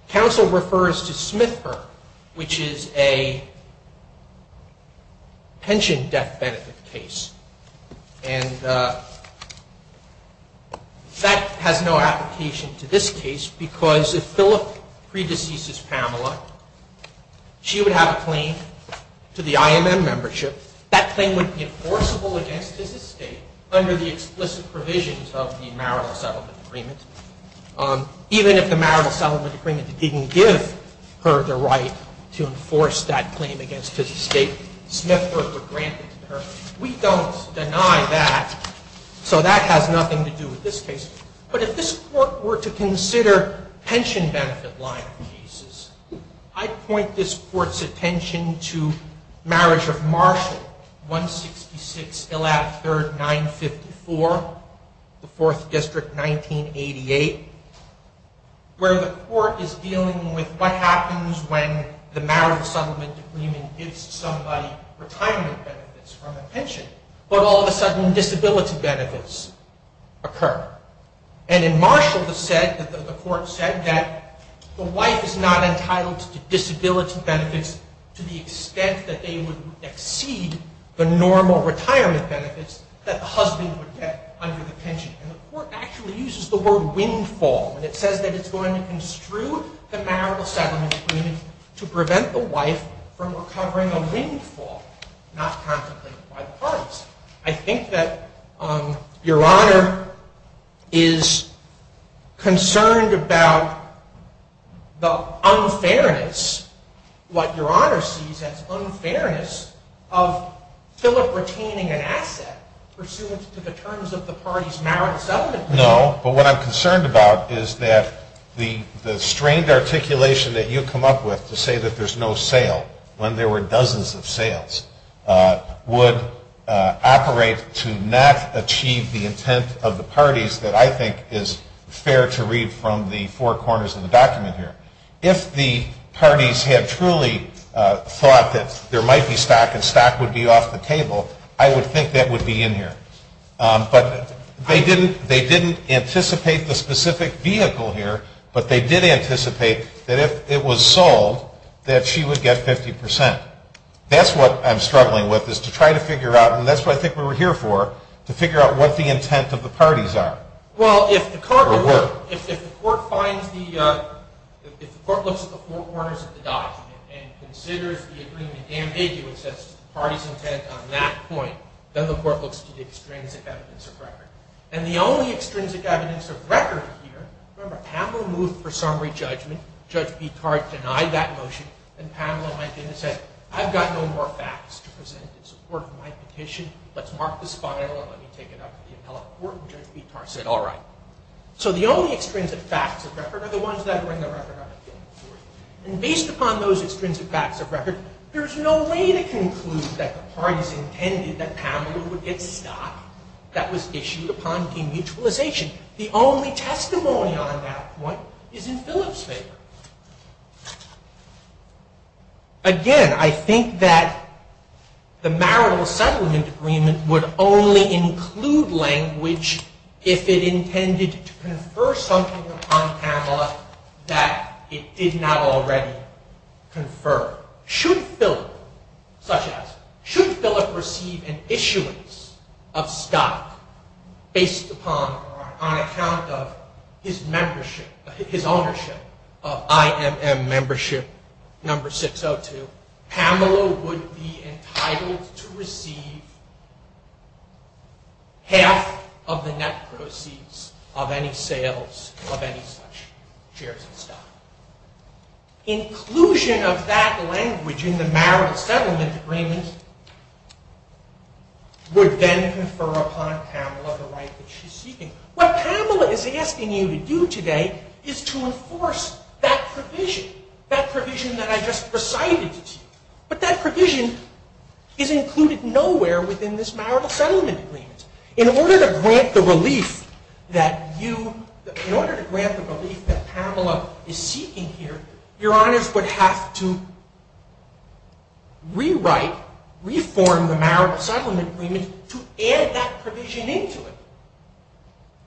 Counsel refers to Smithburg, which is a pension death benefit case. And that has no application to this case because if Philip predeceases Pamela, she would have a claim to the IMM membership. That claim would be enforceable against his estate under the explicit provisions of the marital settlement agreement. Even if the marital settlement agreement didn't give her the right to enforce that claim against his estate, Smithburg would grant it to her. We don't deny that, so that has nothing to do with this case. But if this Court were to consider pension benefit line cases, I'd point this Court's attention to marriage of Marshall, 166, 113, 954, the 4th District, 1988, where the Court is dealing with what happens when the marital settlement agreement gives somebody retirement benefits from a pension, but all of a sudden disability benefits occur. And in Marshall, the Court said that the wife is not entitled to disability benefits to the extent that they would exceed the normal retirement benefits that the husband would get under the pension. And the Court actually uses the word windfall, and it says that it's going to construe the marital settlement agreement to prevent the wife from recovering a windfall, not contemplated by the parties. I think that Your Honor is concerned about the unfairness, what Your Honor sees as unfairness, of Philip retaining an asset pursuant to the terms of the parties' marital settlement agreement. No, but what I'm concerned about is that the strained articulation that you come up with to say that there's no sale, when there were dozens of sales, would operate to not achieve the intent of the parties that I think is fair to read from the four corners of the document here. If the parties had truly thought that there might be stock and stock would be off the table, I would think that would be in here. But they didn't anticipate the specific vehicle here, but they did anticipate that if it was sold, that she would get 50%. That's what I'm struggling with, is to try to figure out, and that's what I think we're here for, to figure out what the intent of the parties are. Well, if the court finds the, if the court looks at the four corners of the document and considers the agreement amicably with the parties' intent on that point, then the court looks to the extrinsic evidence of record. And the only extrinsic evidence of record here, remember, Pamela Mooth for summary judgment, Judge Bittar denied that motion, and Pamela went in and said, I've got no more facts to present in support of my petition. Let's mark this file and let me take it up to the appellate court. And Judge Bittar said, all right. So the only extrinsic facts of record are the ones that are in the record. And based upon those extrinsic facts of record, there's no way to conclude that the parties intended that Pamela would get stock that was issued upon demutualization. The only testimony on that point is in Philip's favor. Again, I think that the marital settlement agreement would only include language if it intended to confer something upon Pamela that it did not already confer. Should Philip, such as, should Philip receive an issuance of stock based upon or on account of his membership, his ownership of IMM membership number 602, Pamela would be entitled to receive half of the net proceeds of any sales of any such shares of stock. Inclusion of that language in the marital settlement agreement would then confer upon Pamela the right that she's seeking. What Pamela is asking you to do today is to enforce that provision, that provision that I just recited to you. But that provision is included nowhere within this marital settlement agreement. In order to grant the relief that you, in order to grant the relief that Pamela is seeking here, your honors would have to rewrite, reform the marital settlement agreement to add that provision into it.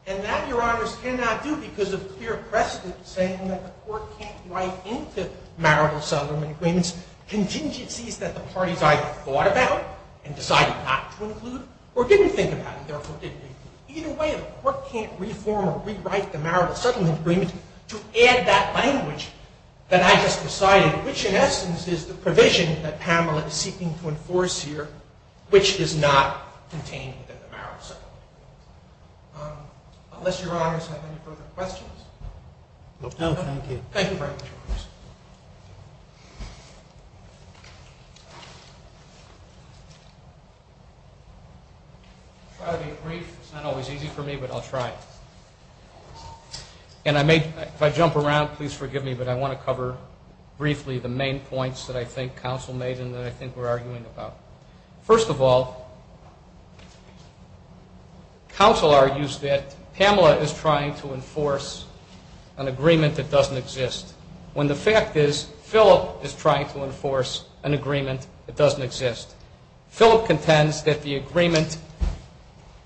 And that, your honors, cannot do because of clear precedent saying that the court can't write into marital settlement agreements contingencies that the parties either thought about and decided not to include or didn't think about and therefore didn't include. Either way, the court can't reform or rewrite the marital settlement agreement to add that language that I just recited, which in essence is the provision that Pamela is seeking to enforce here, which is not contained within the marital settlement agreement. Unless your honors have any further questions. No, thank you. Thank you very much, your honors. I'll try to be brief. It's not always easy for me, but I'll try. And I may, if I jump around, please forgive me, but I want to cover briefly the main points that I think counsel made and that I think we're arguing about. First of all, counsel argues that Pamela is trying to enforce an agreement that doesn't exist when the fact is Phillip is trying to enforce an agreement that doesn't exist. Phillip contends that the agreement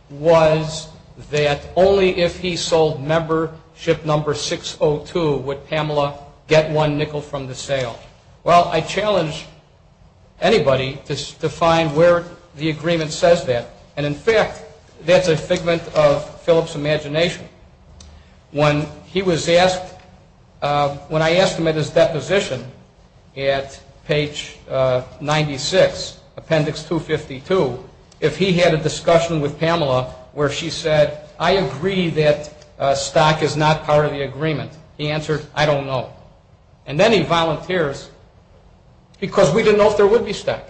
was that only if he sold membership number 602 would Pamela get one nickel from the sale. Well, I challenge anybody to find where the agreement says that. And, in fact, that's a figment of Phillip's imagination. When I asked him at his deposition at page 96, appendix 252, if he had a discussion with Pamela where she said, I agree that stock is not part of the agreement. He answered, I don't know. And then he volunteers because we didn't know if there would be stock.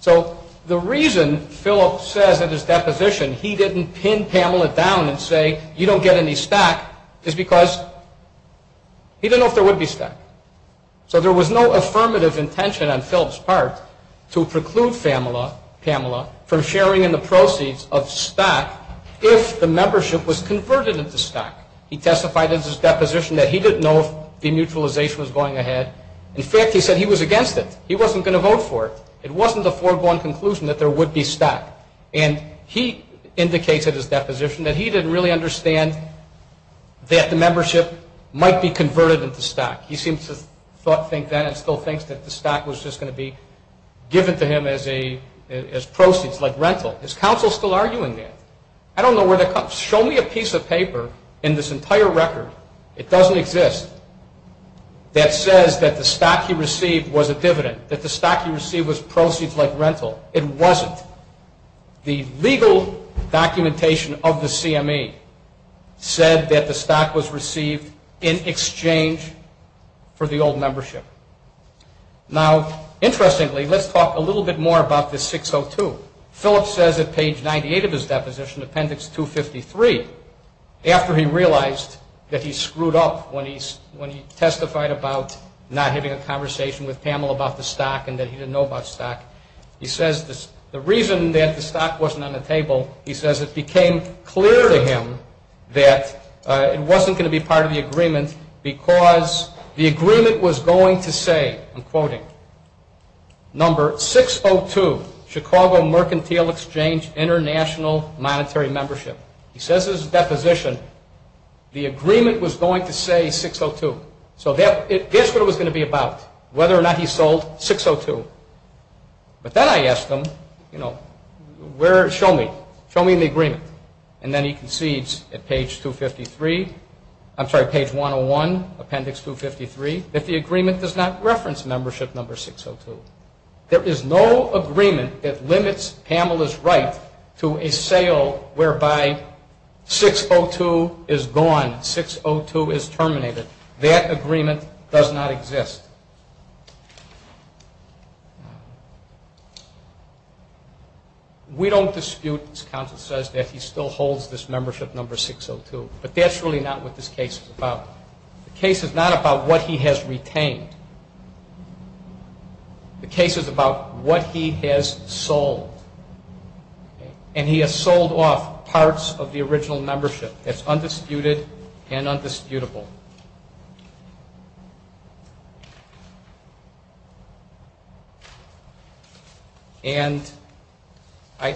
So the reason Phillip says at his deposition he didn't pin Pamela down and say you don't get any stock is because he didn't know if there would be stock. So there was no affirmative intention on Phillip's part to preclude Pamela from sharing in the proceeds of stock if the membership was converted into stock. He testified at his deposition that he didn't know if demutualization was going ahead. In fact, he said he was against it. He wasn't going to vote for it. It wasn't the foregone conclusion that there would be stock. And he indicates at his deposition that he didn't really understand that the membership might be converted into stock. He seems to think then and still thinks that the stock was just going to be given to him as proceeds like rental. Is counsel still arguing that? I don't know where that comes from. Show me a piece of paper in this entire record, it doesn't exist, that says that the stock he received was a dividend, that the stock he received was proceeds like rental. It wasn't. The legal documentation of the CME said that the stock was received in exchange for the old membership. Now, interestingly, let's talk a little bit more about this 602. Phillip says at page 98 of his deposition, appendix 253, after he realized that he screwed up when he testified about not having a conversation with Pamela about the stock and that he didn't know about stock, he says the reason that the stock wasn't on the table, he says it became clear to him that it wasn't going to be part of the agreement because the agreement was going to say, I'm quoting, number 602, Chicago Mercantile Exchange International Monetary Membership. He says in his deposition, the agreement was going to say 602. So that's what it was going to be about, whether or not he sold 602. But then I asked him, you know, where, show me, show me the agreement. And then he concedes at page 253, I'm sorry, page 101, appendix 253, that the agreement does not reference membership number 602. There is no agreement that limits Pamela's right to a sale whereby 602 is gone, 602 is terminated. That agreement does not exist. We don't dispute, as counsel says, that he still holds this membership number 602. But that's really not what this case is about. The case is not about what he has retained. The case is about what he has sold. And he has sold off parts of the original membership that's undisputed and undisputable. And I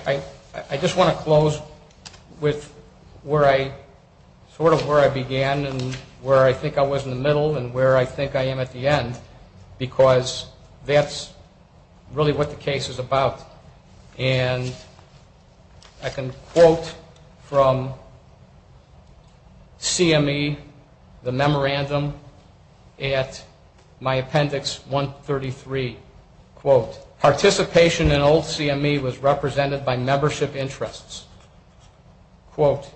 just want to close with where I sort of where I began and where I think I was in the middle and where I think I am at the end because that's really what the case is about. And I can quote from CME, the memorandum at my appendix 133, quote, participation in old CME was represented by membership interests, quote,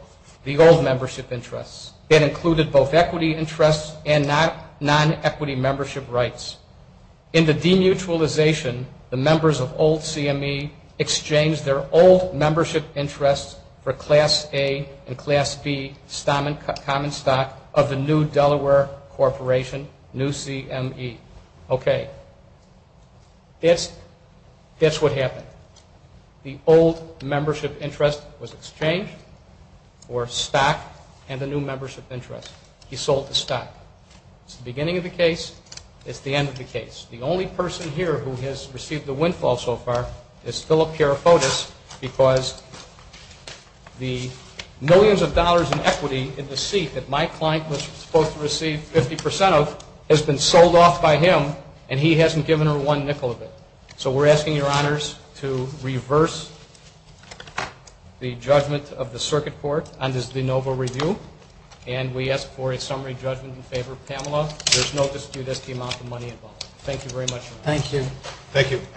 the old membership interests. That included both equity interests and non-equity membership rights. In the demutualization, the members of old CME exchanged their old membership interests for Class A and Class B common stock of the new Delaware Corporation, new CME. Okay. That's what happened. The old membership interest was exchanged for stock and the new membership interest. He sold the stock. It's the beginning of the case. It's the end of the case. The only person here who has received the windfall so far is Philip Kiaropotos because the millions of dollars in equity in the seat that my client was supposed to receive 50% of has been sold off by him, and he hasn't given her one nickel of it. So we're asking your honors to reverse the judgment of the circuit court on this de novo review, and we ask for a summary judgment in favor of Pamela. There's no dispute as to the amount of money involved. Thank you very much. Thank you.